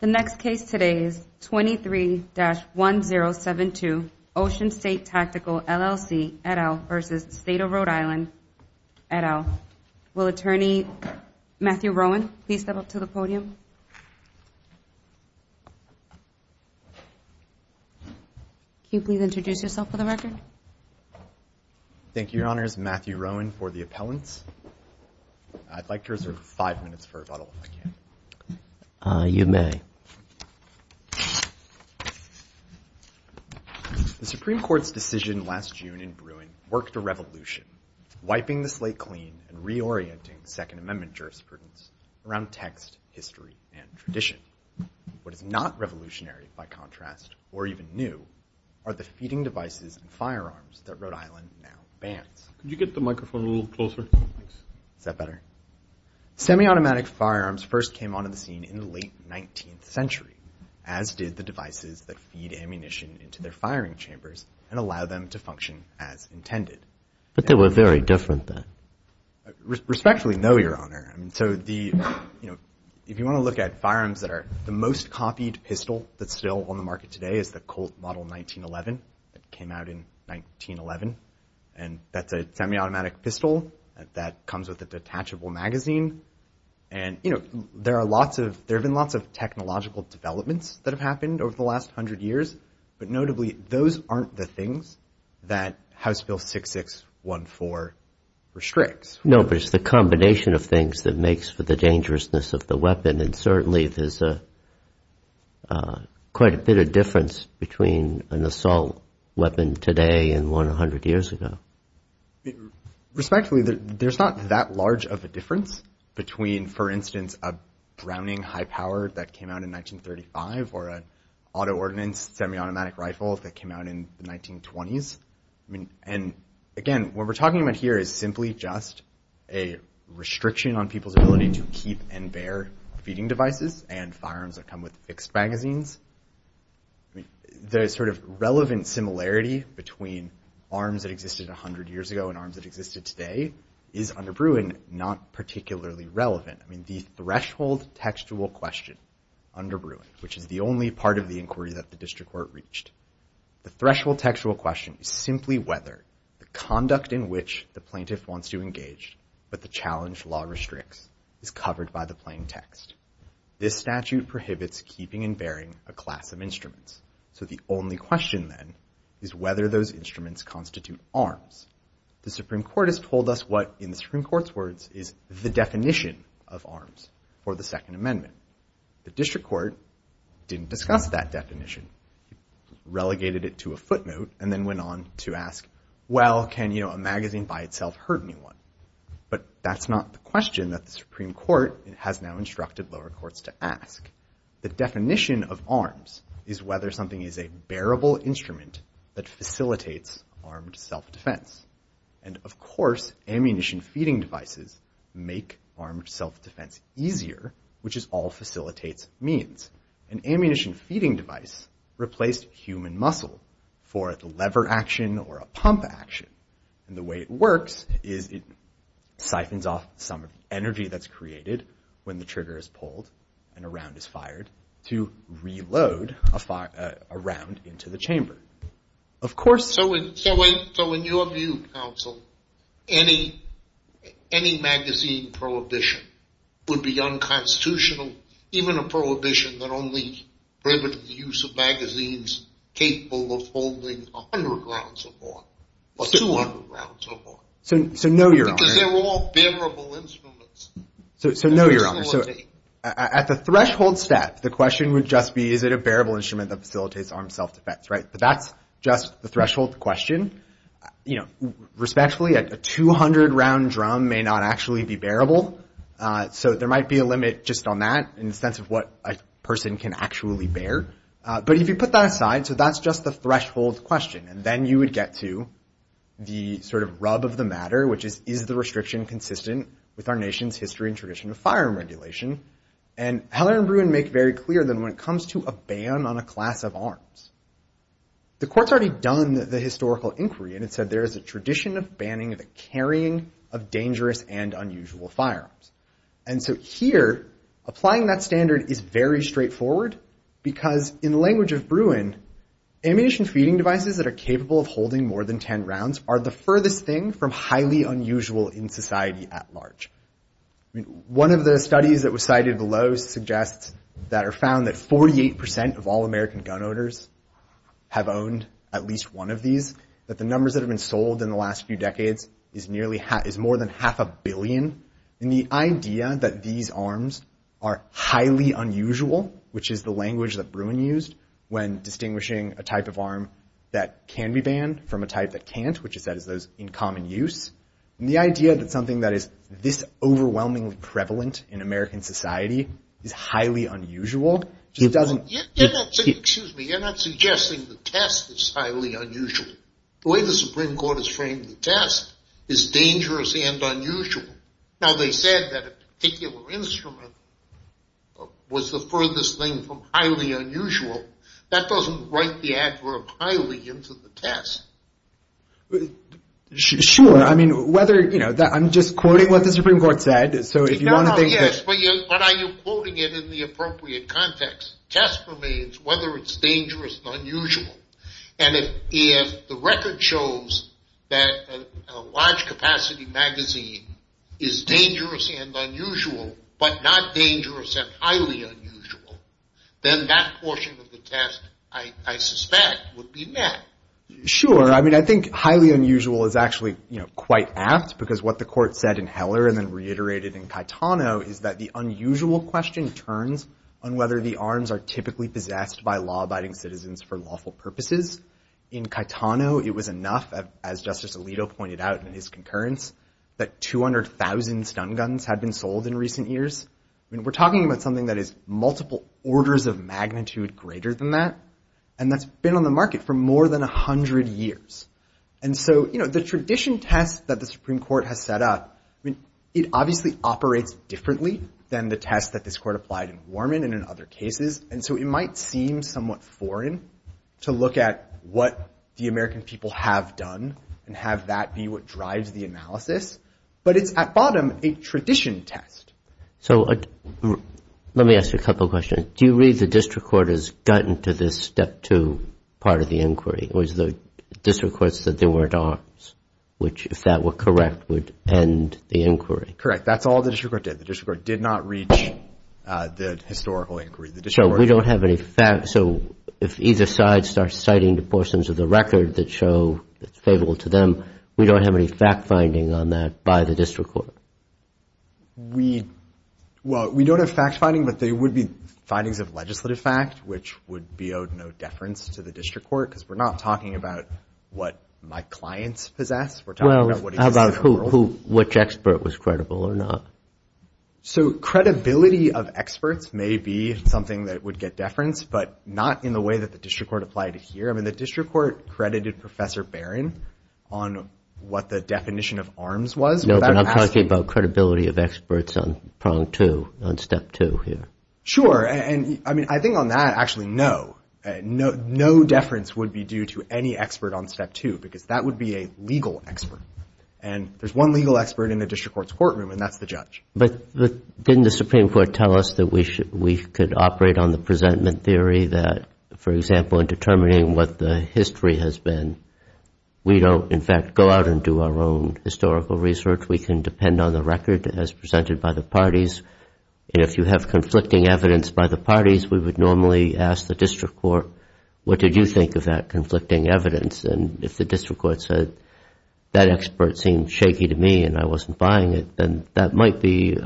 The next case today is 23-1072 Ocean State Tactical, LLC, et al. v. State of Rhode Island, et al. Will Attorney Matthew Rowan please step up to the podium? Can you please introduce yourself for the record? Thank you, Your Honors. Matthew Rowan for the appellants. I'd like to reserve five minutes for rebuttal, if I can. You may. The Supreme Court's decision last June in Bruin worked a revolution, wiping the slate clean and reorienting Second Amendment jurisprudence around text, history, and tradition. What is not revolutionary, by contrast, or even new, are the feeding devices and firearms that Rhode Island now bans. Could you get the microphone a little closer? Is that better? Semi-automatic firearms first came onto the scene in the late 19th century, as did the devices that feed ammunition into their firing chambers and allow them to function as intended. But they were very different then. Respectfully, no, Your Honor. I mean, so the, you know, if you want to look at firearms that are the most copied pistol that's still on the market today is the Colt Model 1911 that came out in 1911. And that's a semi-automatic pistol that comes with a detachable magazine. And, you know, there are lots of – there have been lots of technological developments that have happened over the last hundred years. But notably, those aren't the things that House Bill 6614 restricts. No, but it's the combination of things that makes for the dangerousness of the weapon. And certainly there's quite a bit of difference between an assault weapon today and one a hundred years ago. Respectfully, there's not that large of a difference between, for instance, a Browning high-powered that came out in 1935 or an auto-ordnance semi-automatic rifle that came out in the 1920s. And, again, what we're talking about here is simply just a restriction on people's ability to keep and bear feeding devices and firearms that come with fixed magazines. The sort of relevant similarity between arms that existed a hundred years ago and arms that existed today is under Bruin not particularly relevant. I mean, the threshold textual question under Bruin, which is the only part of the inquiry that the district court reached, the threshold textual question is simply whether the conduct in which the plaintiff wants to engage but the challenge law restricts is covered by the plain text. This statute prohibits keeping and bearing a class of instruments. So the only question then is whether those instruments constitute arms. The Supreme Court has told us what, in the Supreme Court's words, is the definition of arms for the Second Amendment. The district court didn't discuss that definition. It relegated it to a footnote and then went on to ask, well, can, you know, a magazine by itself hurt anyone? But that's not the question that the Supreme Court has now instructed lower courts to ask. The definition of arms is whether something is a bearable instrument that facilitates armed self-defense. And, of course, ammunition feeding devices make armed self-defense easier, which is all facilitates means. An ammunition feeding device replaced human muscle for a lever action or a pump action. And the way it works is it siphons off some energy that's created when the trigger is pulled and a round is fired to reload a round into the chamber. Of course... So in your view, counsel, any magazine prohibition would be unconstitutional, even a prohibition that only prohibited the use of magazines capable of holding 100 rounds or more or 200 rounds or more. So no, Your Honor. Because they're all bearable instruments. So no, Your Honor. At the threshold step, the question would just be, is it a bearable instrument that facilitates armed self-defense, right? But that's just the threshold question. Respectfully, a 200-round drum may not actually be bearable. So there might be a limit just on that in the sense of what a person can actually bear. But if you put that aside, so that's just the threshold question. And then you would get to the sort of rub of the matter, which is, is the restriction consistent with our nation's history and tradition of firearm regulation? And Heller and Bruin make very clear that when it comes to a ban on a class of arms, the Court's already done the historical inquiry, and it said there is a tradition of banning the carrying of dangerous and unusual firearms. And so here, applying that standard is very straightforward because in the language of Bruin, ammunition feeding devices that are capable of holding more than 10 rounds are the furthest thing from highly unusual in society at large. One of the studies that was cited below suggests that are found that 48% of all American gun owners have owned at least one of these, that the numbers that have been sold in the last few decades is more than half a billion. And the idea that these arms are highly unusual, which is the language that Bruin used when distinguishing a type of arm that can be banned from a type that can't, which is those in common use, and the idea that something that is this overwhelmingly prevalent in American society is highly unusual just doesn't... You're not suggesting the test is highly unusual. The way the Supreme Court has framed the test is dangerous and unusual. Now, they said that a particular instrument was the furthest thing from highly unusual. That doesn't write the adverb highly into the test. Sure, I mean, whether, you know, I'm just quoting what the Supreme Court said, so if you want to think that... Yes, but are you quoting it in the appropriate context? The test remains whether it's dangerous and unusual. And if the record shows that a large capacity magazine is dangerous and unusual, but not dangerous and highly unusual, then that portion of the test, I suspect, would be met. Sure, I mean, I think highly unusual is actually, you know, quite apt because what the court said in Heller and then reiterated in Caetano is that the unusual question turns on whether the arms are typically possessed by law-abiding citizens for lawful purposes. In Caetano, it was enough, as Justice Alito pointed out in his concurrence, that 200,000 stun guns had been sold in recent years. I mean, we're talking about something that is multiple orders of magnitude greater than that, and that's been on the market for more than 100 years. And so, you know, the tradition test that the Supreme Court has set up, I mean, it obviously operates differently than the test that this court applied in Warman and in other cases, and so it might seem somewhat foreign to look at what the American people have done and have that be what drives the analysis, but it's, at bottom, a tradition test. So let me ask you a couple questions. Do you read the district court has gotten to this step two part of the inquiry? It was the district court said there weren't arms, which, if that were correct, would end the inquiry. Correct. That's all the district court did. The district court did not reach the historical inquiry. So we don't have any facts. So if either side starts citing the portions of the record that show it's favorable to them, we don't have any fact-finding on that by the district court. We, well, we don't have fact-finding, but they would be findings of legislative fact, which would be of no deference to the district court, because we're not talking about what my clients possess. We're talking about what exists in the world. Well, how about who, which expert was credible or not? So credibility of experts may be something that would get deference, but not in the way that the district court applied it here. I mean, the district court credited Professor Barron on what the definition of arms was without asking. No, but I'm talking about credibility of experts on prong two, on step two here. Sure, and I mean, I think on that, actually, no. No deference would be due to any expert on step two, because that would be a legal expert. And there's one legal expert in the district court's courtroom, and that's the judge. But didn't the Supreme Court tell us that we could operate on the presentment theory that, for example, in determining what the history has been, we don't, in fact, go out and do our own historical research. We can depend on the record as presented by the parties. And if you have conflicting evidence by the parties, we would normally ask the district court, what did you think of that conflicting evidence? And if the district court said, that expert seemed shaky to me and I wasn't buying it, then that might be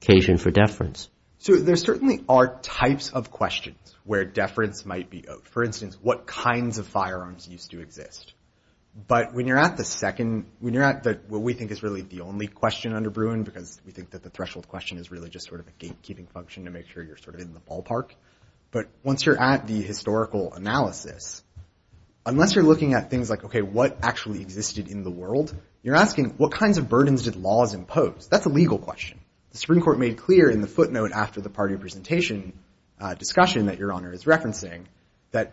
occasion for deference. So there certainly are types of questions where deference might be owed. For instance, what kinds of firearms used to exist? But when you're at the second, when you're at what we think is really the only question under Bruin, because we think that the threshold question is really just sort of a gatekeeping function to make sure you're sort of in the ballpark. But once you're at the historical analysis, unless you're looking at things like, okay, what actually existed in the world, you're asking, what kinds of burdens did laws impose? That's a legal question. The Supreme Court made clear in the footnote after the party presentation discussion that Your Honor is referencing, that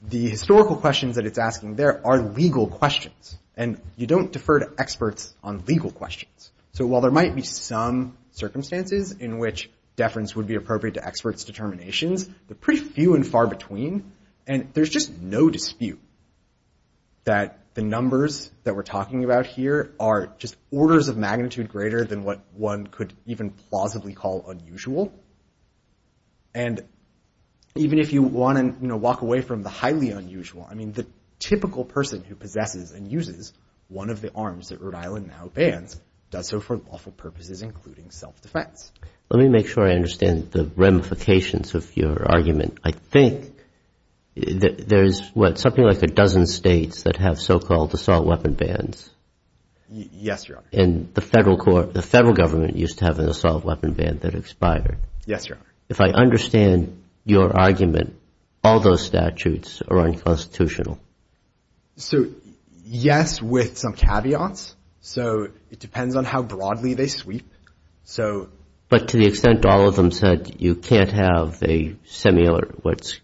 the historical questions that it's asking there are legal questions, and you don't defer to experts on legal questions. So while there might be some circumstances in which deference would be appropriate to experts' determinations, there are pretty few and far between, and there's just no dispute that the numbers that we're talking about here are just orders of magnitude greater than what one could even plausibly call unusual. And even if you want to, you know, walk away from the highly unusual, I mean, the typical person who possesses and uses one of the arms that Rhode Island now bans does so for lawful purposes, including self-defense. Let me make sure I understand the ramifications of your argument. I think that there's, what, that have so-called assault weapon bans. Yes, Your Honor. And the federal court, the federal government used to have an assault weapon ban that expired. Yes, Your Honor. If I understand your argument, all those statutes are unconstitutional. So, yes, with some caveats. So it depends on how broadly they sweep. So... But to the extent all of them said you can't have a similar, what's...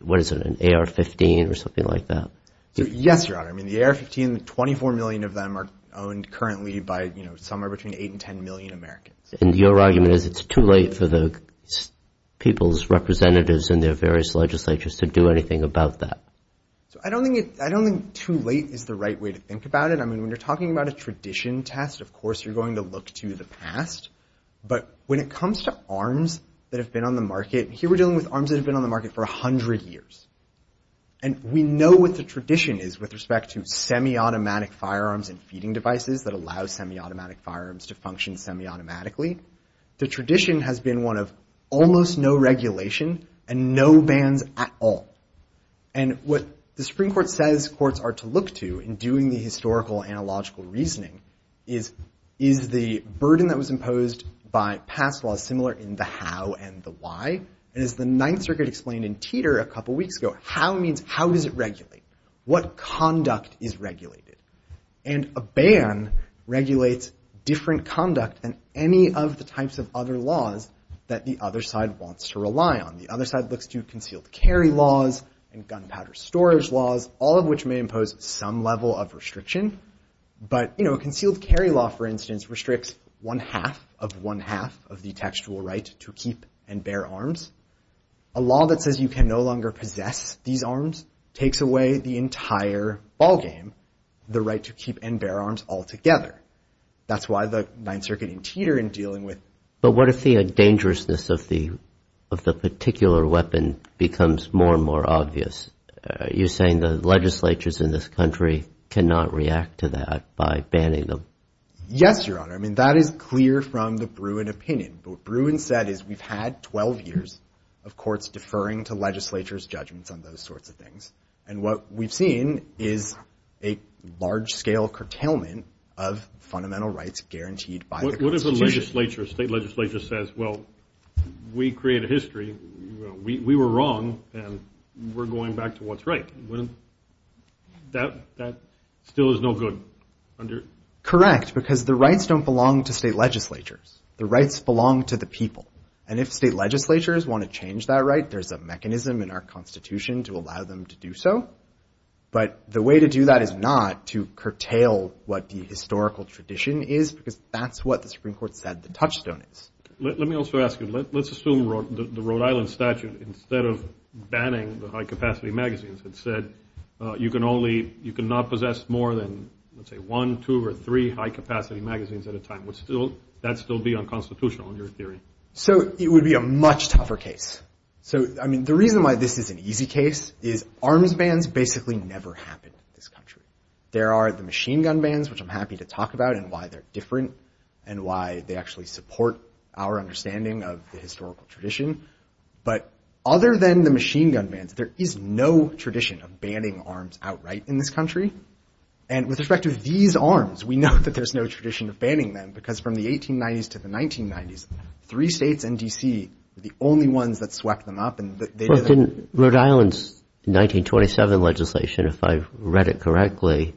what is it, an AR-15 or something like that? Yes, Your Honor. I mean, the AR-15, 24 million of them are owned currently by, you know, somewhere between 8 and 10 million Americans. And your argument is it's too late for the people's representatives and their various legislatures to do anything about that? So I don't think it... I don't think too late is the right way to think about it. I mean, when you're talking about a tradition test, of course, you're going to look to the past. But when it comes to arms that have been on the market, here we're dealing with arms that have been on the market for 100 years. And we know what the tradition is with respect to semiautomatic firearms and feeding devices that allow semiautomatic firearms to function semiautomatically. The tradition has been one of almost no regulation and no bans at all. And what the Supreme Court says courts are to look to in doing the historical analogical reasoning is, is the burden that was imposed by past laws similar in the how and the why? And as the Ninth Circuit explained in Teeter a couple weeks ago, how means how does it regulate? What conduct is regulated? And a ban regulates different conduct than any of the types of other laws that the other side wants to rely on. The other side looks to concealed carry laws and gunpowder storage laws, all of which may impose some level of restriction. But, you know, a concealed carry law, for instance, restricts one-half of one-half of the textual right to keep and bear arms. A law that says you can no longer possess these arms takes away the entire ballgame, the right to keep and bear arms altogether. That's why the Ninth Circuit in Teeter in dealing with... But what if the dangerousness of the particular weapon becomes more and more obvious? Are you saying the legislatures in this country cannot react to that by banning them? Yes, Your Honor. I mean, that is clear from the Bruin opinion. But what Bruin said is we've had 12 years of courts deferring to legislatures' judgments on those sorts of things. And what we've seen is a large-scale curtailment of fundamental rights guaranteed by the Constitution. What if the legislature, state legislature, says, well, we created history, we were wrong, and we're going back to what's right? That still is no good. Correct, because the rights don't belong to state legislatures. The rights belong to the people. And if state legislatures want to change that right, there's a mechanism in our Constitution to allow them to do so. But the way to do that is not to curtail what the historical tradition is, because that's what the Supreme Court said the touchstone is. Let me also ask you. Let's assume the Rhode Island statute, instead of banning the high-capacity magazines, had said you can only... You cannot possess more than, let's say, one, two, or three high-capacity magazines at a time. Would that still be unconstitutional, in your theory? So it would be a much tougher case. So, I mean, the reason why this is an easy case is arms bans basically never happened in this country. There are the machine gun bans, which I'm happy to talk about, and why they're different, and why they actually support our understanding of the historical tradition. But other than the machine gun bans, there is no tradition of banning arms outright in this country. And with respect to these arms, we know that there's no tradition of banning them, because from the 1890s to the 1990s, three states and D.C. were the only ones that swept them up. But didn't Rhode Island's 1927 legislation, if I've read it correctly,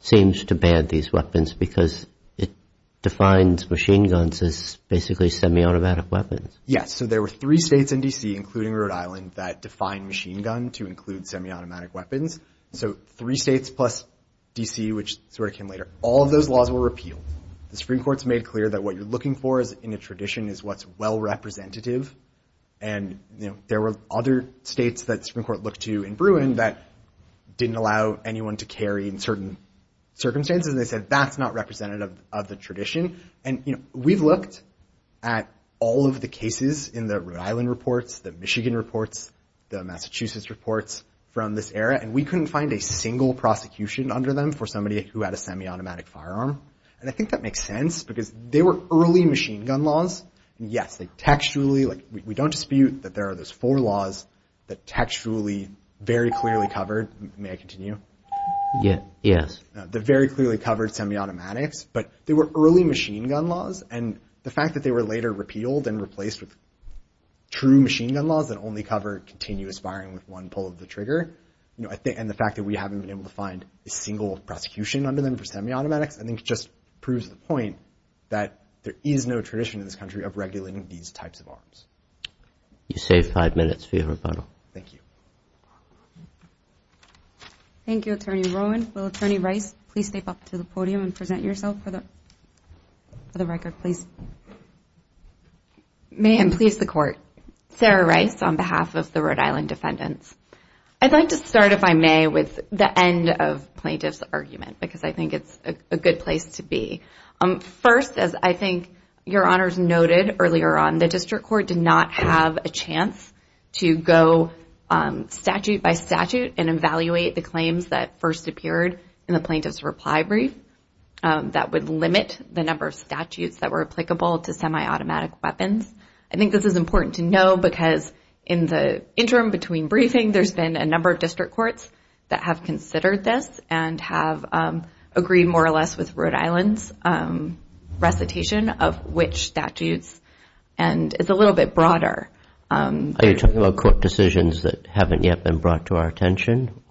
seems to ban these weapons because it defines machine guns as basically semi-automatic weapons? Yes, so there were three states and D.C., including Rhode Island, that defined machine gun to include semi-automatic weapons. So three states plus D.C., which is where it came later. All of those laws were repealed. The Supreme Court's made clear that what you're looking for in a tradition is what's well representative. And, you know, there were other states that the Supreme Court looked to in Bruin that didn't allow anyone to carry in certain circumstances, and they said, that's not representative of the tradition. And, you know, we've looked at all of the cases in the Rhode Island reports, the Michigan reports, the Massachusetts reports from this era, and we couldn't find a single prosecution under them for somebody who had a semi-automatic firearm. And I think that makes sense because they were early machine gun laws. Yes, they textually, like, we don't dispute that there are those four laws that textually very clearly covered. May I continue? Yes. They very clearly covered semi-automatics, but they were early machine gun laws. And the fact that they were later repealed and replaced with true machine gun laws that only cover continuous firing with one pull of the trigger, you know, and the fact that we haven't been able to find a single prosecution under them for semi-automatics, I think just proves the point that there is no tradition in this country of regulating these types of arms. You save five minutes for your rebuttal. Thank you. Thank you, Attorney Rowan. Will Attorney Rice please step up to the podium and present yourself for the record, please? May I please the court? Sarah Rice on behalf of the Rhode Island defendants. I'd like to start, if I may, with the end of plaintiff's argument because I think it's a good place to be. First, as I think your honors noted earlier on, the district court did not have a chance to go statute by statute and evaluate the claims that first appeared in the plaintiff's reply brief that would limit the number of statutes that were applicable to semi-automatic weapons. I think this is important to know because in the interim between briefing, there's been a number of district courts that have considered this and have agreed, more or less, with Rhode Island's recitation of which statutes, and it's a little bit broader. Are you talking about court decisions that haven't yet been brought to our attention?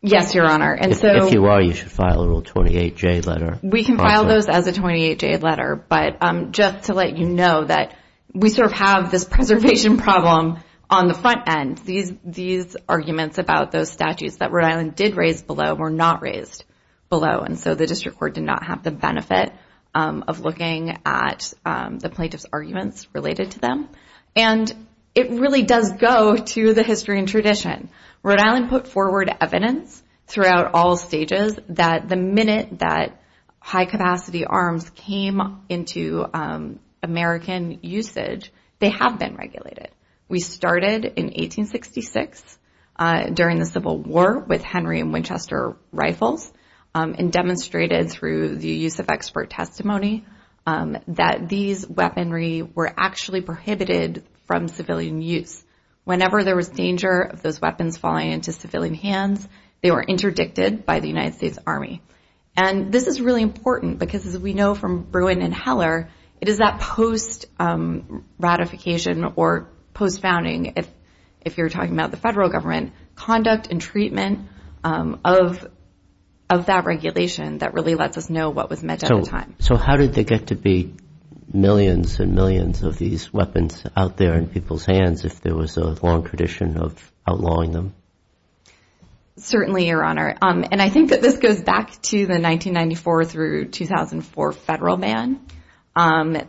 Yes, your honor. If you are, you should file a Rule 28J letter. We can file those as a 28J letter, but just to let you know that we sort of have this preservation problem on the front end. These arguments about those statutes that Rhode Island did raise below were not raised below, and so the district court did not have the benefit of looking at the plaintiff's arguments related to them, and it really does go to the history and tradition. Rhode Island put forward evidence throughout all stages that the minute that high-capacity arms came into American usage, they have been regulated. We started in 1866 during the Civil War with Henry and Winchester rifles and demonstrated through the use of expert testimony that these weaponry were actually prohibited from civilian use. Whenever there was danger of those weapons falling into civilian hands, they were interdicted by the United States Army, and this is really important because as we know from Bruin and Heller, it is that post-ratification or post-founding, if you're talking about the federal government, conduct and treatment of that regulation that really lets us know what was meant at the time. So how did they get to be millions and millions of these weapons out there in people's hands if there was a long tradition of outlawing them? Certainly, Your Honor, and I think that this goes back to the 1994 through 2004 federal ban.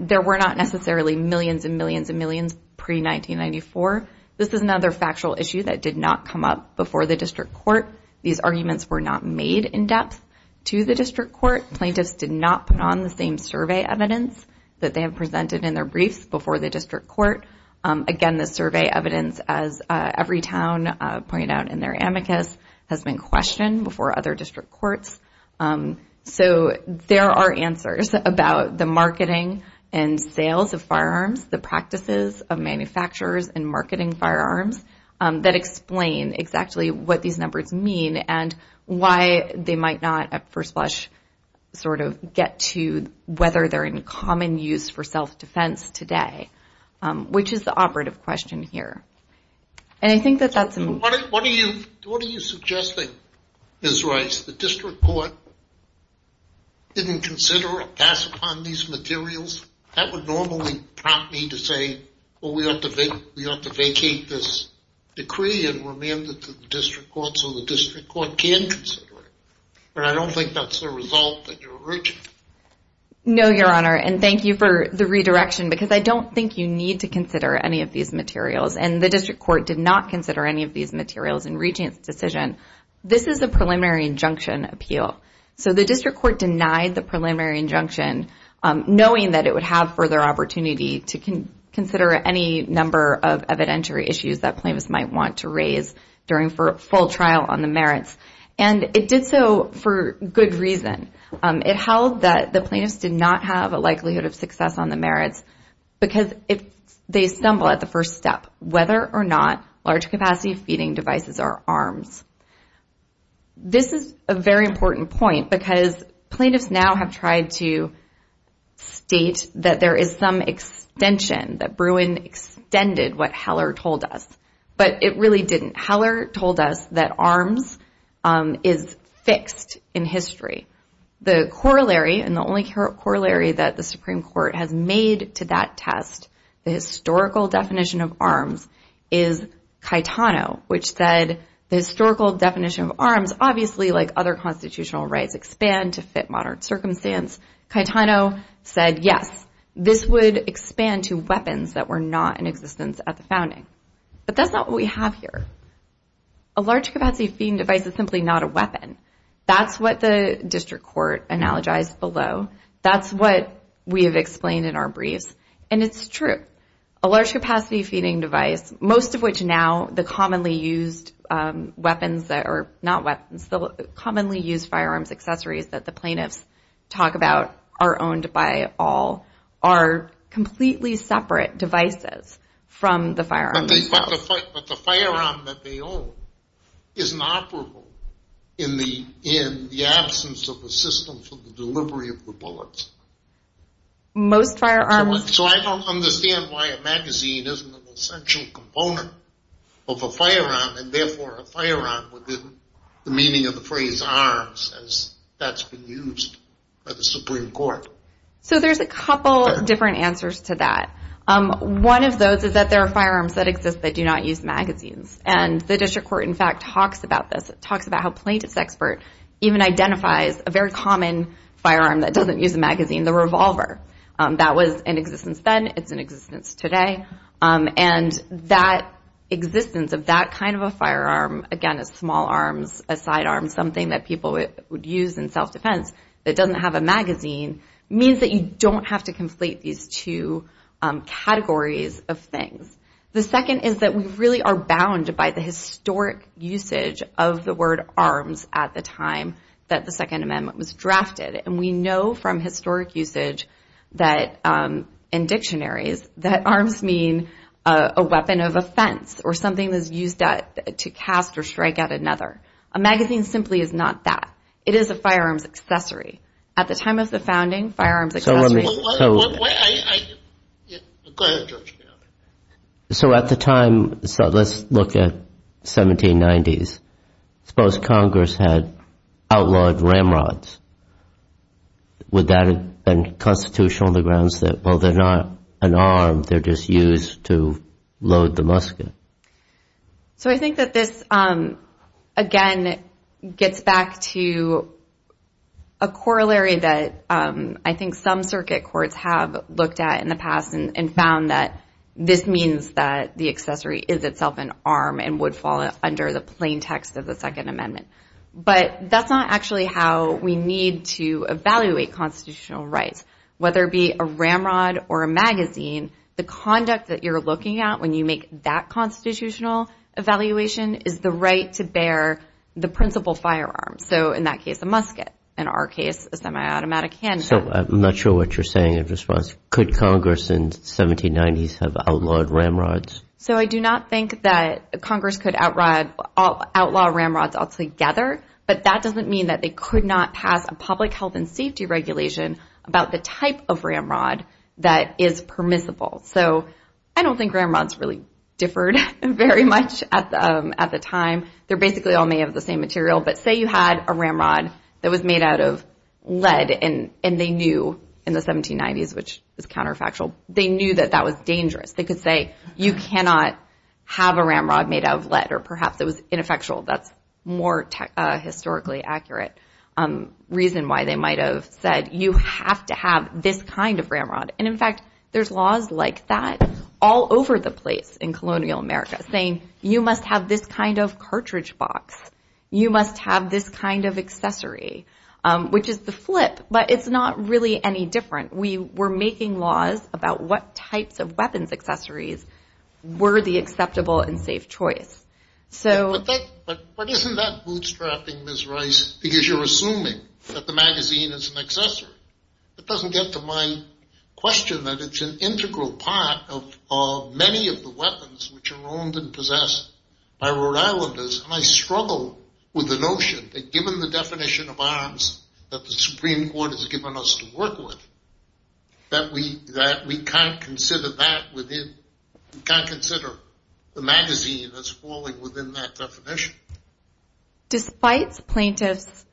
There were not necessarily millions and millions and millions pre-1994. This is another factual issue that did not come up before the district court. These arguments were not made in depth to the district court. Plaintiffs did not put on the same survey evidence that they had presented in their briefs before the district court. Again, the survey evidence, as every town pointed out in their amicus, has been questioned before other district courts. So there are answers about the marketing and sales of firearms, the practices of manufacturers and marketing firearms that explain exactly what these numbers mean and why they might not, at first blush, sort of get to whether they're in common use for self-defense today, which is the operative question here. And I think that that's... What are you suggesting, Ms. Rice? The district court didn't consider or pass upon these materials? That would normally prompt me to say, well, we ought to vacate this decree and remand it to the district court so the district court can consider it. But I don't think that's the result that you're urging. No, Your Honor, and thank you for the redirection because I don't think you need to consider any of these materials, and the district court did not consider any of these materials in Regent's decision. This is a preliminary injunction appeal. So the district court denied the preliminary injunction, knowing that it would have further opportunity to consider any number of evidentiary issues that plaintiffs might want to raise during full trial on the merits. And it did so for good reason. It held that the plaintiffs did not have a likelihood of success on the merits because they stumble at the first step, whether or not large capacity feeding devices are arms. This is a very important point because plaintiffs now have tried to state that there is some extension, that Bruin extended what Heller told us, but it really didn't. Heller told us that arms is fixed in history. The corollary, and the only corollary that the Supreme Court has made to that test, the historical definition of arms is Caetano, which said the historical definition of arms, obviously, like other constitutional rights, expand to fit modern circumstance. Caetano said, yes, this would expand to weapons that were not in existence at the founding. But that's not what we have here. A large capacity feeding device is simply not a weapon. That's what the district court analogized below. That's what we have explained in our briefs. And it's true. A large capacity feeding device, most of which now the commonly used firearms accessories that the plaintiffs talk about are owned by all, are completely separate devices from the firearms. But the firearm that they own isn't operable in the absence of a system for the delivery of the bullets. Most firearms... So I don't understand why a magazine isn't an essential component of a firearm, and therefore a firearm with the meaning of the phrase arms as that's been used by the Supreme Court. So there's a couple different answers to that. One of those is that there are firearms that exist that do not use magazines. And the district court, in fact, talks about this. It talks about how a plaintiff's expert even identifies a very common firearm that doesn't use a magazine, the revolver. That was in existence then. It's in existence today. And that existence of that kind of a firearm, again, a small arms, a sidearm, something that people would use in self-defense that doesn't have a magazine, means that you don't have to conflate these two categories of things. The second is that we really are bound by the historic usage of the word arms at the time that the Second Amendment was drafted. And we know from historic usage in dictionaries that arms mean a weapon of offense or something that's used to cast or strike at another. A magazine simply is not that. It is a firearms accessory. At the time of the founding, firearms accessories... So let me... Go ahead, Judge. So at the time, so let's look at 1790s. Suppose Congress had outlawed ramrods. Would that have been constitutional on the grounds that, well, they're not an arm, they're just used to load the musket? So I think that this, again, gets back to a corollary that I think some circuit courts have looked at in the past and found that this means that the accessory is itself an arm and would fall under the plain text of the Second Amendment. But that's not actually how we need to evaluate constitutional rights. Whether it be a ramrod or a magazine, the conduct that you're looking at when you make that constitutional evaluation is the right to bear the principal firearm. So in that case, a musket. In our case, a semi-automatic handgun. So I'm not sure what you're saying in response. Could Congress in the 1790s have outlawed ramrods? So I do not think that Congress could outlaw ramrods altogether, but that doesn't mean that they could not pass a public health and safety regulation about the type of ramrod that is permissible. So I don't think ramrods really differed very much at the time. They're basically all made of the same material. But say you had a ramrod that was made out of lead, and they knew in the 1790s, which was counterfactual, they knew that that was dangerous. They could say, you cannot have a ramrod made out of lead. Or perhaps it was ineffectual. That's a more historically accurate reason why they might have said, you have to have this kind of ramrod. And in fact, there's laws like that all over the place in colonial America, saying, you must have this kind of cartridge box. You must have this kind of accessory. Which is the flip, but it's not really any different. We were making laws about what types of weapons accessories were the acceptable and safe choice. But isn't that bootstrapping, Ms. Rice, because you're assuming that the magazine is an accessory? It doesn't get to my question that it's an integral part of many of the weapons which are owned and possessed by Rhode Islanders, and I struggle with the notion that given the definition of arms that the Supreme Court has given us to work with, that we can't consider the magazine as falling within that definition. Despite plaintiffs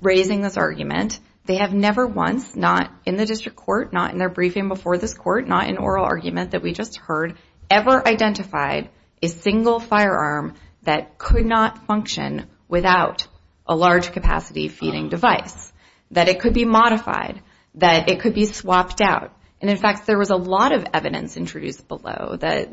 raising this argument, they have never once, not in the district court, not in their briefing before this court, not in oral argument that we just heard, ever identified a single firearm that could not function without a large capacity feeding device. That it could be modified. That it could be swapped out. And in fact, there was a lot of evidence introduced below that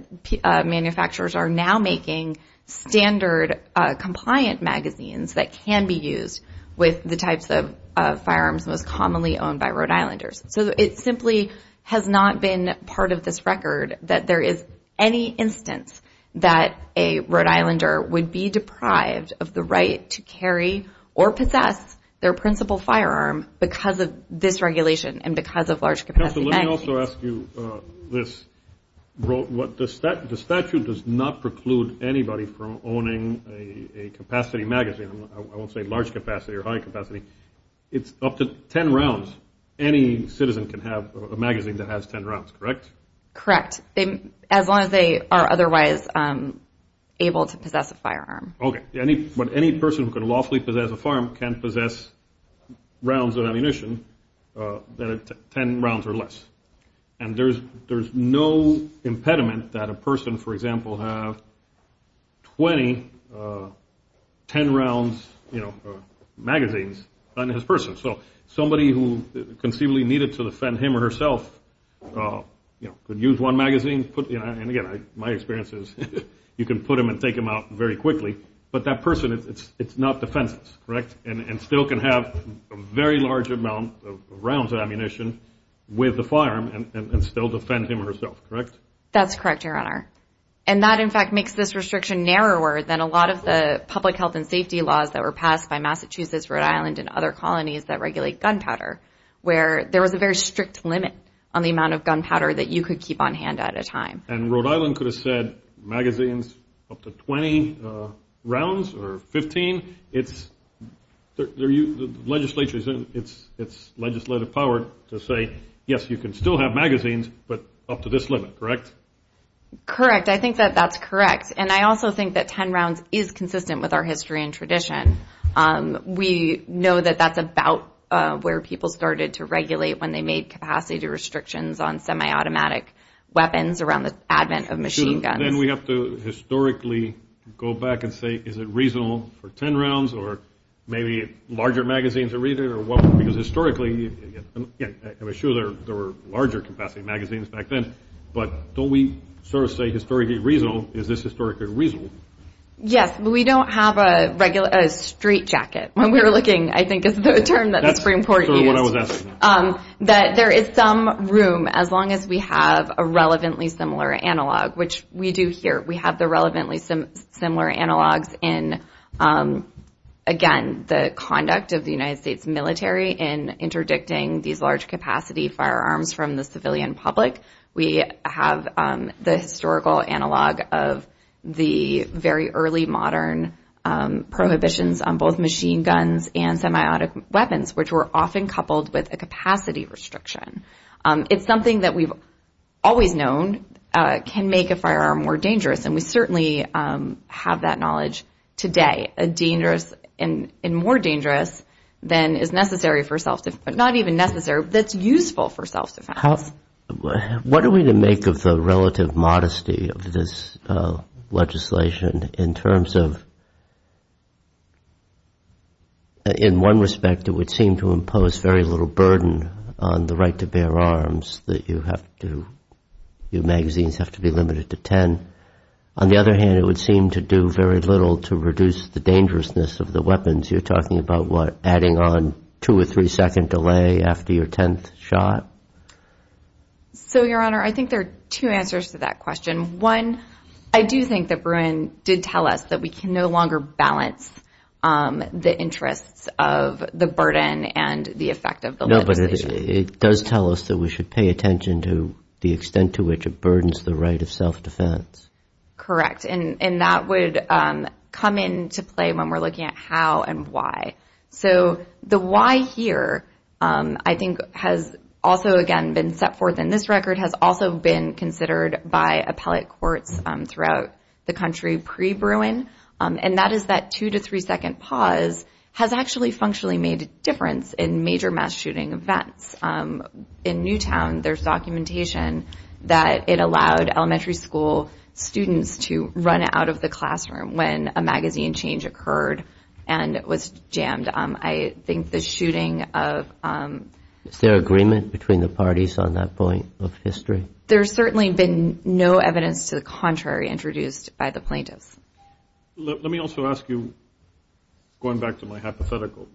manufacturers are now making standard compliant magazines that can be used with the types of firearms most commonly owned by Rhode Islanders. So it simply has not been part of this record that there is any instance that a Rhode Islander would be deprived of the right to carry or possess their principal firearm because of this regulation and because of large capacity magazines. Let me also ask you this. The statute does not preclude anybody from owning a capacity magazine. I won't say large capacity or high capacity. It's up to 10 rounds. Any citizen can have a magazine that has 10 rounds, correct? Correct. As long as they are otherwise able to possess a firearm. Okay. But any person who could lawfully possess a firearm can possess rounds of ammunition that are 10 rounds or less. And there's no impediment that a person, for example, have 20 10 rounds magazines on his person. So somebody who conceivably needed to defend him or herself could use one magazine. And again, my experience is you can put them and take them out very quickly. But that person, it's not defenseless, correct? And still can have a very large amount of rounds of ammunition with the firearm and still defend him or herself, correct? That's correct, Your Honor. And that in fact makes this restriction narrower than a lot of the public health and safety laws that were passed by Massachusetts, Rhode Island, and other colonies that regulate gunpowder, where there was a very strict limit on the amount of gunpowder that you could keep on hand at a time. And Rhode Island could have said magazines up to 20 rounds or 15? It's legislative power to say, yes, you can still have magazines, but up to this limit, correct? Correct. I think that that's correct. And I also think that 10 rounds is consistent with our history and tradition. We know that that's about where people started to regulate when they made capacity restrictions on semi-automatic weapons around the advent of machine guns. Then we have to historically go back and say, is it reasonable for 10 rounds or maybe larger magazines to read it? Because historically, I'm sure there were larger capacity magazines back then, but don't we sort of say historically reasonable? Is this historically reasonable? Yes, but we don't have a straight jacket when we were looking, I think is the term that the Supreme Court used. That's sort of what I was asking. There is some room, as long as we have a relevantly similar analog, which we do here. We have the relevantly similar analogs in, again, the conduct of the United States military in interdicting these large capacity firearms from the civilian public. We have the historical analog of the very early modern prohibitions on both machine guns and semi-automatic weapons, which were often coupled with a capacity restriction. It's something that we've always known can make a firearm more dangerous, and we certainly have that knowledge today, and more dangerous than is necessary for self-defense, but not even necessary, that's useful for self-defense. What are we to make of the relative modesty of this legislation in terms of, in one respect, it would seem to impose very little burden on the right to bear arms, that you have to, your magazines have to be limited to 10. On the other hand, it would seem to do very little to reduce the dangerousness of the weapons. You're talking about what, adding on two or three second delay after your 10th shot? So, Your Honor, I think there are two answers to that question. One, I do think that Bruin did tell us that we can no longer balance the interests of the burden and the effect of the legislation. No, but it does tell us that we should pay attention to the extent to which it burdens the right of self-defense. Correct, and that would come into play when we're looking at how and why. So, the why here, I think, has also, again, been set forth in this record, has also been considered by appellate courts throughout the country pre-Bruin, and that is that two to three second pause has actually functionally made a difference in major mass shooting events. In Newtown, there's documentation that it allowed elementary school students to run out of the classroom when a magazine change occurred and was jammed. I think the shooting of... Is there agreement between the parties on that point of history? There's certainly been no evidence to the contrary introduced by the plaintiffs. Let me also ask you, going back to my hypothetical,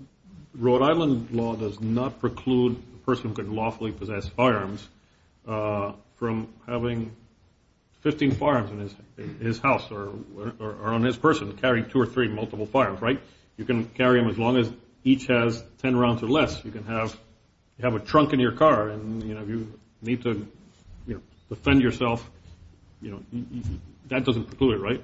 Rhode Island law does not preclude a person who could lawfully possess firearms from having 15 firearms in his house or on his person, carrying two or three multiple firearms, right? You can carry them as long as each has 10 rounds or less. You can have a trunk in your car, and if you need to defend yourself, that doesn't preclude it, right?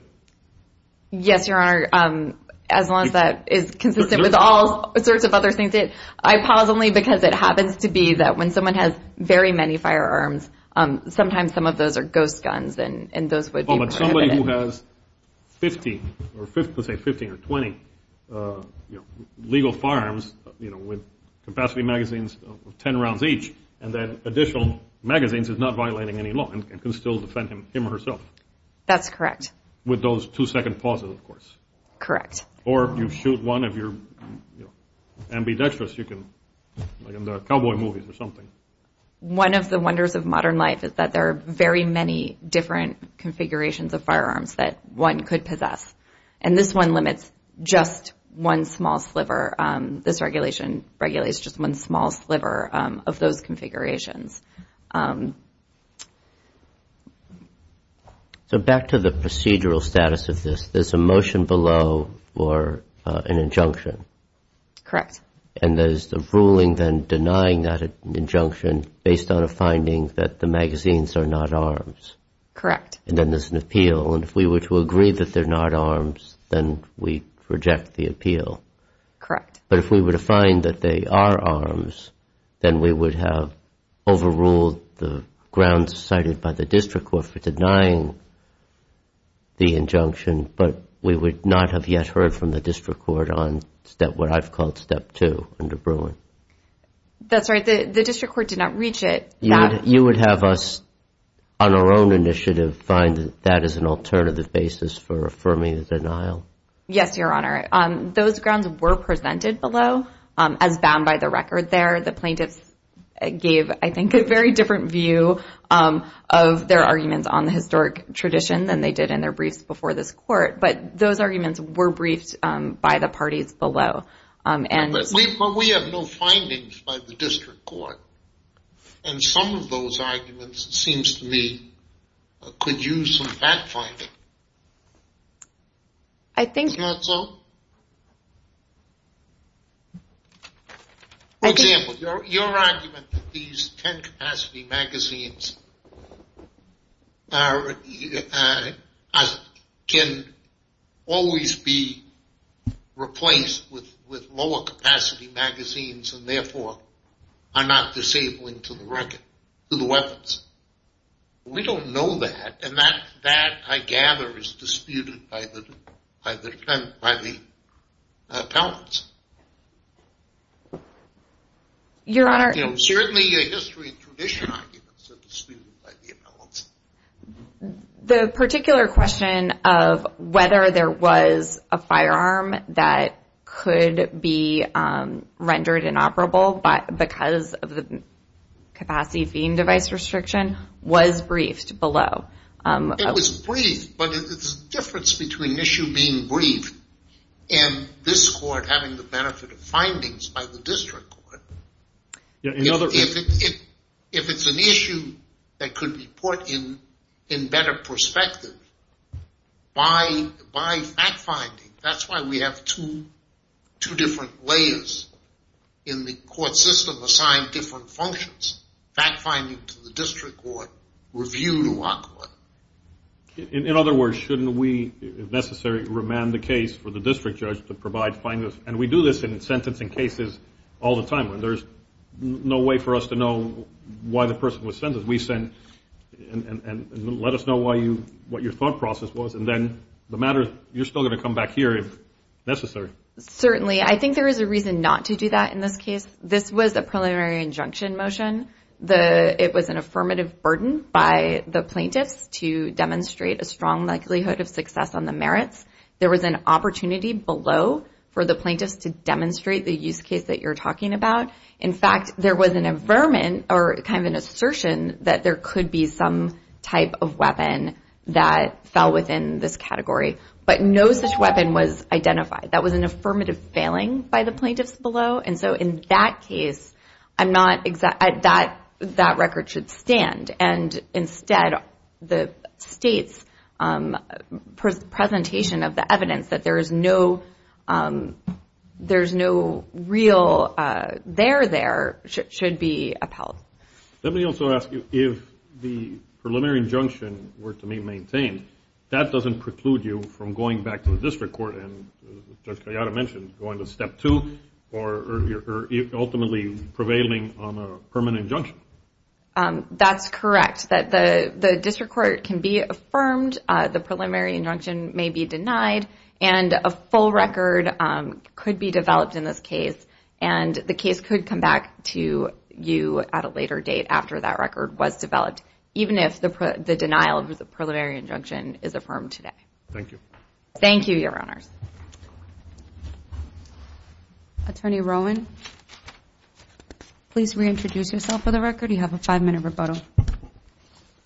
Yes, Your Honor, as long as that is consistent with all sorts of other things. I pause only because it happens to be that when someone has very many firearms, but somebody who has 15 or 20 legal firearms with capacity magazines of 10 rounds each and then additional magazines is not violating any law and can still defend him or herself. That's correct. With those two-second pauses, of course. Correct. Or you shoot one of your ambidextrous, like in the cowboy movies or something. One of the wonders of modern life is that there are very many different configurations of firearms that one could possess, and this one limits just one small sliver. This regulation regulates just one small sliver of those configurations. So back to the procedural status of this, there's a motion below or an injunction. Correct. And there's a ruling then denying that injunction based on a finding that the magazines are not arms. Correct. And then there's an appeal, and if we were to agree that they're not arms, then we reject the appeal. Correct. But if we were to find that they are arms, then we would have overruled the grounds cited by the district court for denying the injunction, but we would not have yet heard from the district court on what I've called step two under Bruin. That's right. The district court did not reach it. You would have us, on our own initiative, find that that is an alternative basis for affirming the denial? Yes, Your Honor. Those grounds were presented below as bound by the record there. The plaintiffs gave, I think, a very different view of their arguments on the historic tradition than they did in their briefs before this court, but those arguments were briefed by the parties below. But we have no findings by the district court, and some of those arguments, it seems to me, could use some back finding. I think. Is that so? For example, your argument that these 10 capacity magazines can always be replaced with lower capacity magazines and, therefore, are not disabling to the weapons. We don't know that, and that, I gather, is disputed by the appellants. Your Honor. Certainly, your history and tradition arguments are disputed by the appellants. The particular question of whether there was a firearm that could be rendered inoperable because of the capacity beam device restriction was briefed below. It was briefed, but there's a difference between an issue being briefed and this court having the benefit of findings by the district court. If it's an issue that could be put in better perspective by fact finding, that's why we have two different layers in the court system assigned different functions. Fact finding to the district court, review to our court. In other words, shouldn't we, if necessary, remand the case for the district judge to provide findings? And we do this in sentencing cases all the time. There's no way for us to know why the person was sentenced. We send and let us know what your thought process was, and then the matter, you're still going to come back here if necessary. Certainly. I think there is a reason not to do that in this case. This was a preliminary injunction motion. It was an affirmative burden by the plaintiffs to demonstrate a strong likelihood of success on the merits. There was an opportunity below for the plaintiffs to demonstrate the use case that you're talking about. In fact, there was an affirmation or kind of an assertion that there could be some type of weapon that fell within this category, but no such weapon was identified. That was an affirmative failing by the plaintiffs below. And so in that case, that record should stand. And instead, the state's presentation of the evidence that there's no real there there should be upheld. Let me also ask you if the preliminary injunction were to be maintained, that doesn't preclude you from going back to the district court, and Judge Kayada mentioned going to step two or ultimately prevailing on a permanent injunction. That's correct. The district court can be affirmed. The preliminary injunction may be denied, and a full record could be developed in this case, and the case could come back to you at a later date after that record was developed, even if the denial of the preliminary injunction is affirmed today. Thank you. Thank you, Your Honors. Attorney Rowan, please reintroduce yourself for the record. You have a five-minute rebuttal.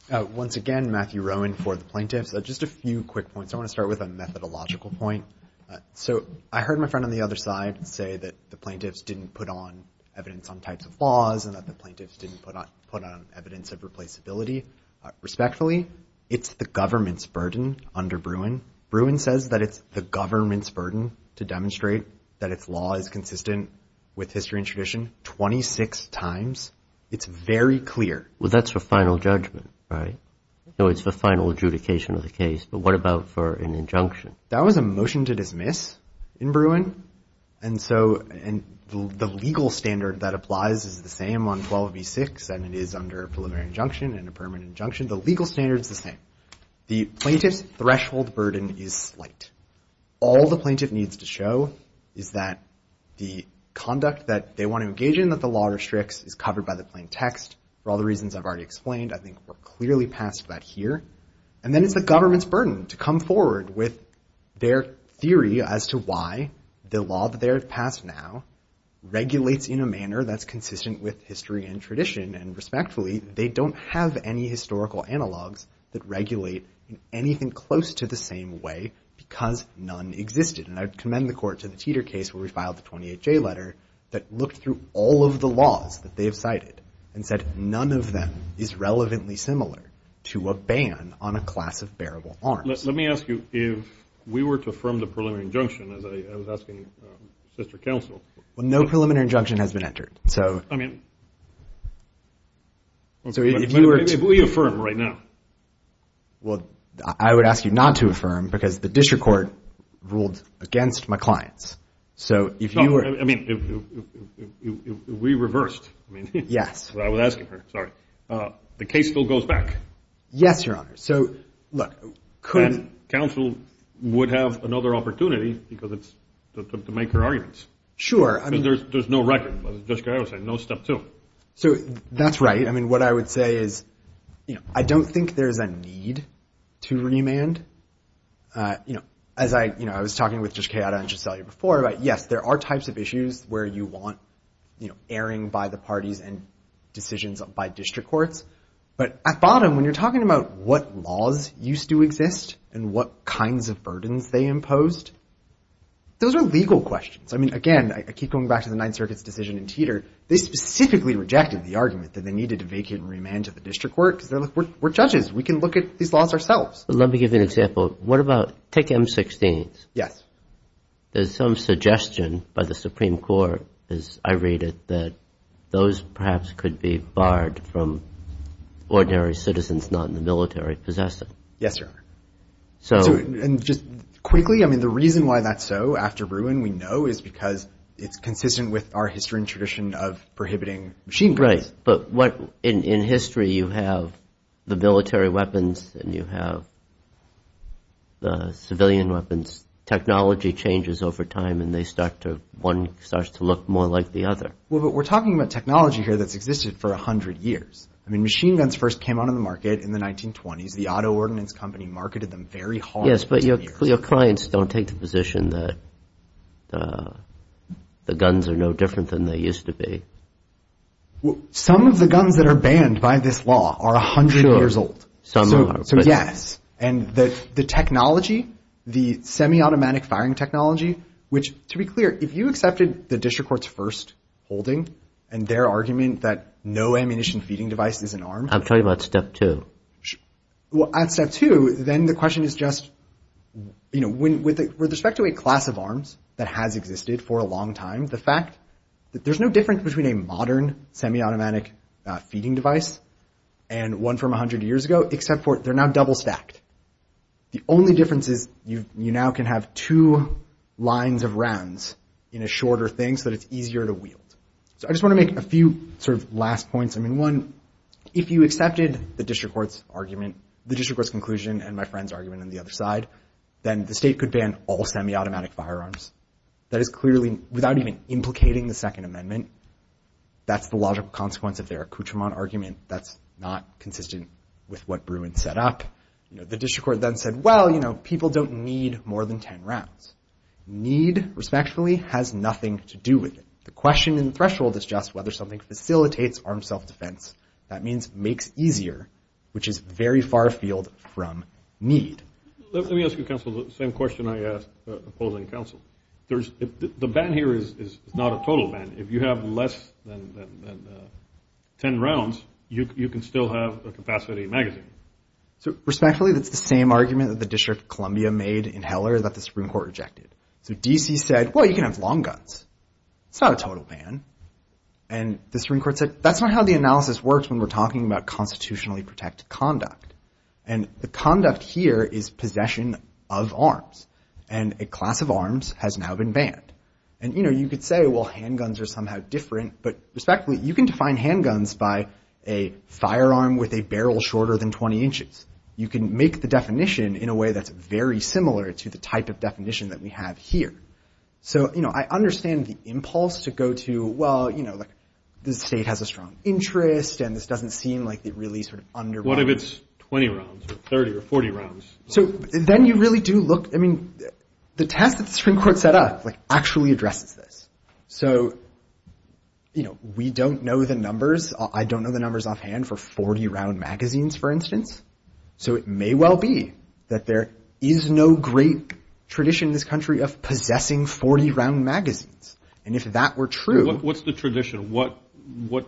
Once again, Matthew Rowan for the plaintiffs. Just a few quick points. I want to start with a methodological point. So I heard my friend on the other side say that the plaintiffs didn't put on evidence on types of laws and that the plaintiffs didn't put on evidence of replaceability. Respectfully, it's the government's burden under Bruin. Bruin says that it's the government's burden to demonstrate that its law is consistent with history and tradition 26 times. It's very clear. Well, that's for final judgment, right? No, it's for final adjudication of the case. But what about for an injunction? That was a motion to dismiss in Bruin, and so the legal standard that applies is the same on 12b-6, and it is under a preliminary injunction and a permanent injunction. The legal standard is the same. The plaintiff's threshold burden is slight. All the plaintiff needs to show is that the conduct that they want to engage in, that the law restricts, is covered by the plain text. For all the reasons I've already explained, I think we're clearly past that here. And then it's the government's burden to come forward with their theory as to why the law that they have passed now regulates in a manner that's consistent with history and tradition, and respectfully, they don't have any historical analogs that regulate in anything close to the same way because none existed. And I commend the court to the Teeter case where we filed the 28-J letter that looked through all of the laws that they have cited and said none of them is relevantly similar to a ban on a class of bearable arms. Let me ask you if we were to affirm the preliminary injunction as I was asking sister counsel. Well, no preliminary injunction has been entered. I mean, if we affirm right now. Well, I would ask you not to affirm because the district court ruled against my clients. So if you were. I mean, if we reversed. Yes. I was asking her. Sorry. The case still goes back. Yes, Your Honor. So look. Counsel would have another opportunity because it's to make her arguments. Sure. There's no record. No step two. So that's right. I mean, what I would say is I don't think there's a need to remand. You know, as I, you know, I was talking with Judge Chiara and Judge Sellier before, but yes, there are types of issues where you want, you know, airing by the parties and decisions by district courts. But at bottom, when you're talking about what laws used to exist and what kinds of burdens they imposed, those are legal questions. I mean, again, I keep going back to the Ninth Circuit's decision in Teeter. They specifically rejected the argument that they needed to vacate and remand to the district court because they're like, we're judges. We can look at these laws ourselves. Let me give you an example. What about, take M-16s. Yes. There's some suggestion by the Supreme Court, as I read it, that those perhaps could be barred from ordinary citizens not in the military possessing. Yes, Your Honor. And just quickly, I mean, the reason why that's so after Bruin, we know, is because it's consistent with our history and tradition of prohibiting machine guns. Right. But what, in history, you have the military weapons and you have the civilian weapons. Technology changes over time and they start to, one starts to look more like the other. Well, but we're talking about technology here that's existed for 100 years. I mean, machine guns first came onto the market in the 1920s. The auto ordinance company marketed them very hard. Yes, but your clients don't take the position that the guns are no different than they used to be. Some of the guns that are banned by this law are 100 years old. So, yes. And the technology, the semi-automatic firing technology, which, to be clear, if you accepted the district court's first holding and their argument that no ammunition feeding device is an arm. I'm talking about step two. Well, at step two, then the question is just, you know, with respect to a class of arms that has existed for a long time, the fact that there's no difference between a modern semi-automatic feeding device and one from 100 years ago, except for they're now double stacked. The only difference is you now can have two lines of rounds in a shorter thing so that it's easier to wield. So I just want to make a few sort of last points. I mean, one, if you accepted the district court's argument, the district court's conclusion and my friend's argument on the other side, then the state could ban all semi-automatic firearms. That is clearly, without even implicating the Second Amendment, that's the logical consequence of their accoutrement argument. That's not consistent with what Bruin set up. You know, the district court then said, well, you know, people don't need more than ten rounds. Need, respectfully, has nothing to do with it. The question and threshold is just whether something facilitates armed self-defense. That means makes easier, which is very far afield from need. Let me ask you, counsel, the same question I asked opposing counsel. The ban here is not a total ban. If you have less than ten rounds, you can still have a capacity magazine. So respectfully, that's the same argument that the District of Columbia made in Heller that the Supreme Court rejected. So D.C. said, well, you can have long guns. It's not a total ban. And the Supreme Court said, that's not how the analysis works when we're talking about constitutionally protected conduct. And the conduct here is possession of arms. And a class of arms has now been banned. And, you know, you could say, well, handguns are somehow different. But respectfully, you can define handguns by a firearm with a barrel shorter than 20 inches. You can make the definition in a way that's very similar to the type of definition that we have here. So, you know, I understand the impulse to go to, well, you know, like the state has a strong interest, and this doesn't seem like it really sort of under- What if it's 20 rounds or 30 or 40 rounds? So then you really do look, I mean, the test that the Supreme Court set up, like, actually addresses this. So, you know, we don't know the numbers. I don't know the numbers offhand for 40-round magazines, for instance. So it may well be that there is no great tradition in this country of possessing 40-round magazines. And if that were true- What's the tradition? What, you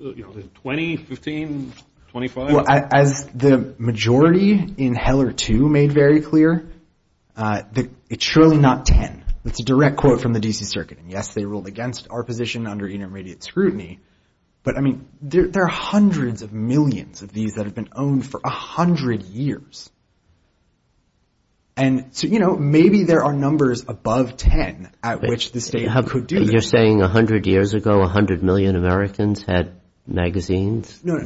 know, 20, 15, 25? Well, as the majority in Heller 2 made very clear, it's surely not 10. That's a direct quote from the D.C. Circuit. And, yes, they ruled against our position under intermediate scrutiny. But, I mean, there are hundreds of millions of these that have been owned for 100 years. And so, you know, maybe there are numbers above 10 at which the state could do this. You're saying 100 years ago, 100 million Americans had magazines? No,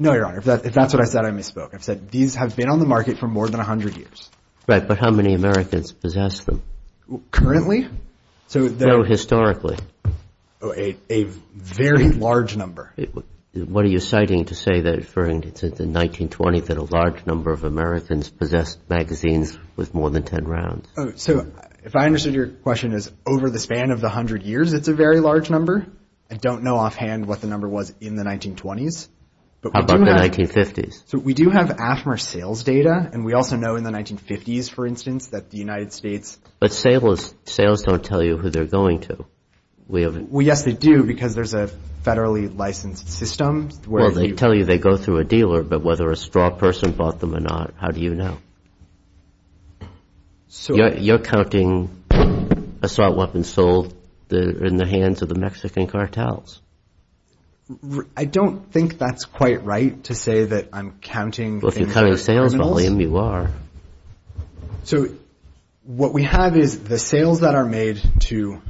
Your Honor. If that's what I said, I misspoke. I've said these have been on the market for more than 100 years. Right, but how many Americans possess them? Currently? No, historically. A very large number. What are you citing to say that referring to the 1920s that a large number of Americans possessed magazines with more than 10 rounds? So if I understood your question as over the span of the 100 years, it's a very large number. I don't know offhand what the number was in the 1920s. How about the 1950s? So we do have AFMR sales data, and we also know in the 1950s, for instance, that the United States But sales don't tell you who they're going to. Well, yes, they do because there's a federally licensed system. Well, they tell you they go through a dealer, but whether a straw person bought them or not, how do you know? You're counting assault weapons sold in the hands of the Mexican cartels. I don't think that's quite right to say that I'm counting American criminals. Well, if you're counting sales volume, you are. So what we have is the sales that are made to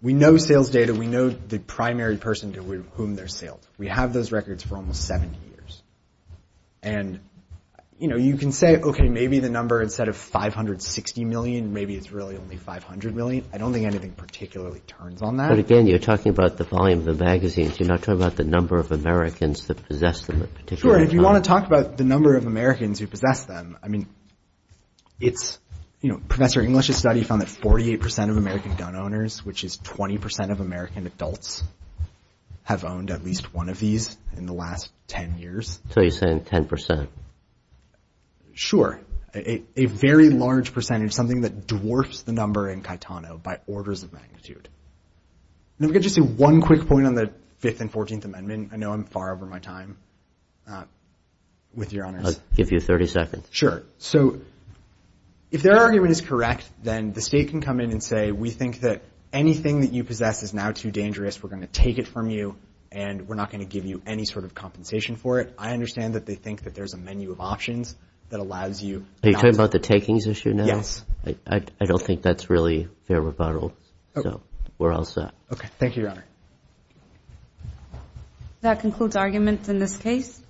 we know sales data, we know the primary person to whom they're saled. We have those records for almost 70 years. And you can say, OK, maybe the number instead of 560 million, maybe it's really only 500 million. I don't think anything particularly turns on that. But again, you're talking about the volume of the magazines. You're not talking about the number of Americans that possess them in particular. Sure, if you want to talk about the number of Americans who possess them, I mean, it's Professor English's study found that 48% of American gun owners, which is 20% of American adults, have owned at least one of these in the last 10 years. So you're saying 10%? Sure, a very large percentage, something that dwarfs the number in Caetano by orders of magnitude. And if I could just say one quick point on the 5th and 14th Amendment. I know I'm far over my time, with your honors. I'll give you 30 seconds. Sure. So if their argument is correct, then the state can come in and say, we think that anything that you possess is now too dangerous. We're going to take it from you, and we're not going to give you any sort of compensation for it. I understand that they think that there's a menu of options that allows you. Are you talking about the takings issue now? Yes. I don't think that's really fair rebuttal. So we're all set. OK, thank you, your honor. That concludes arguments in this case.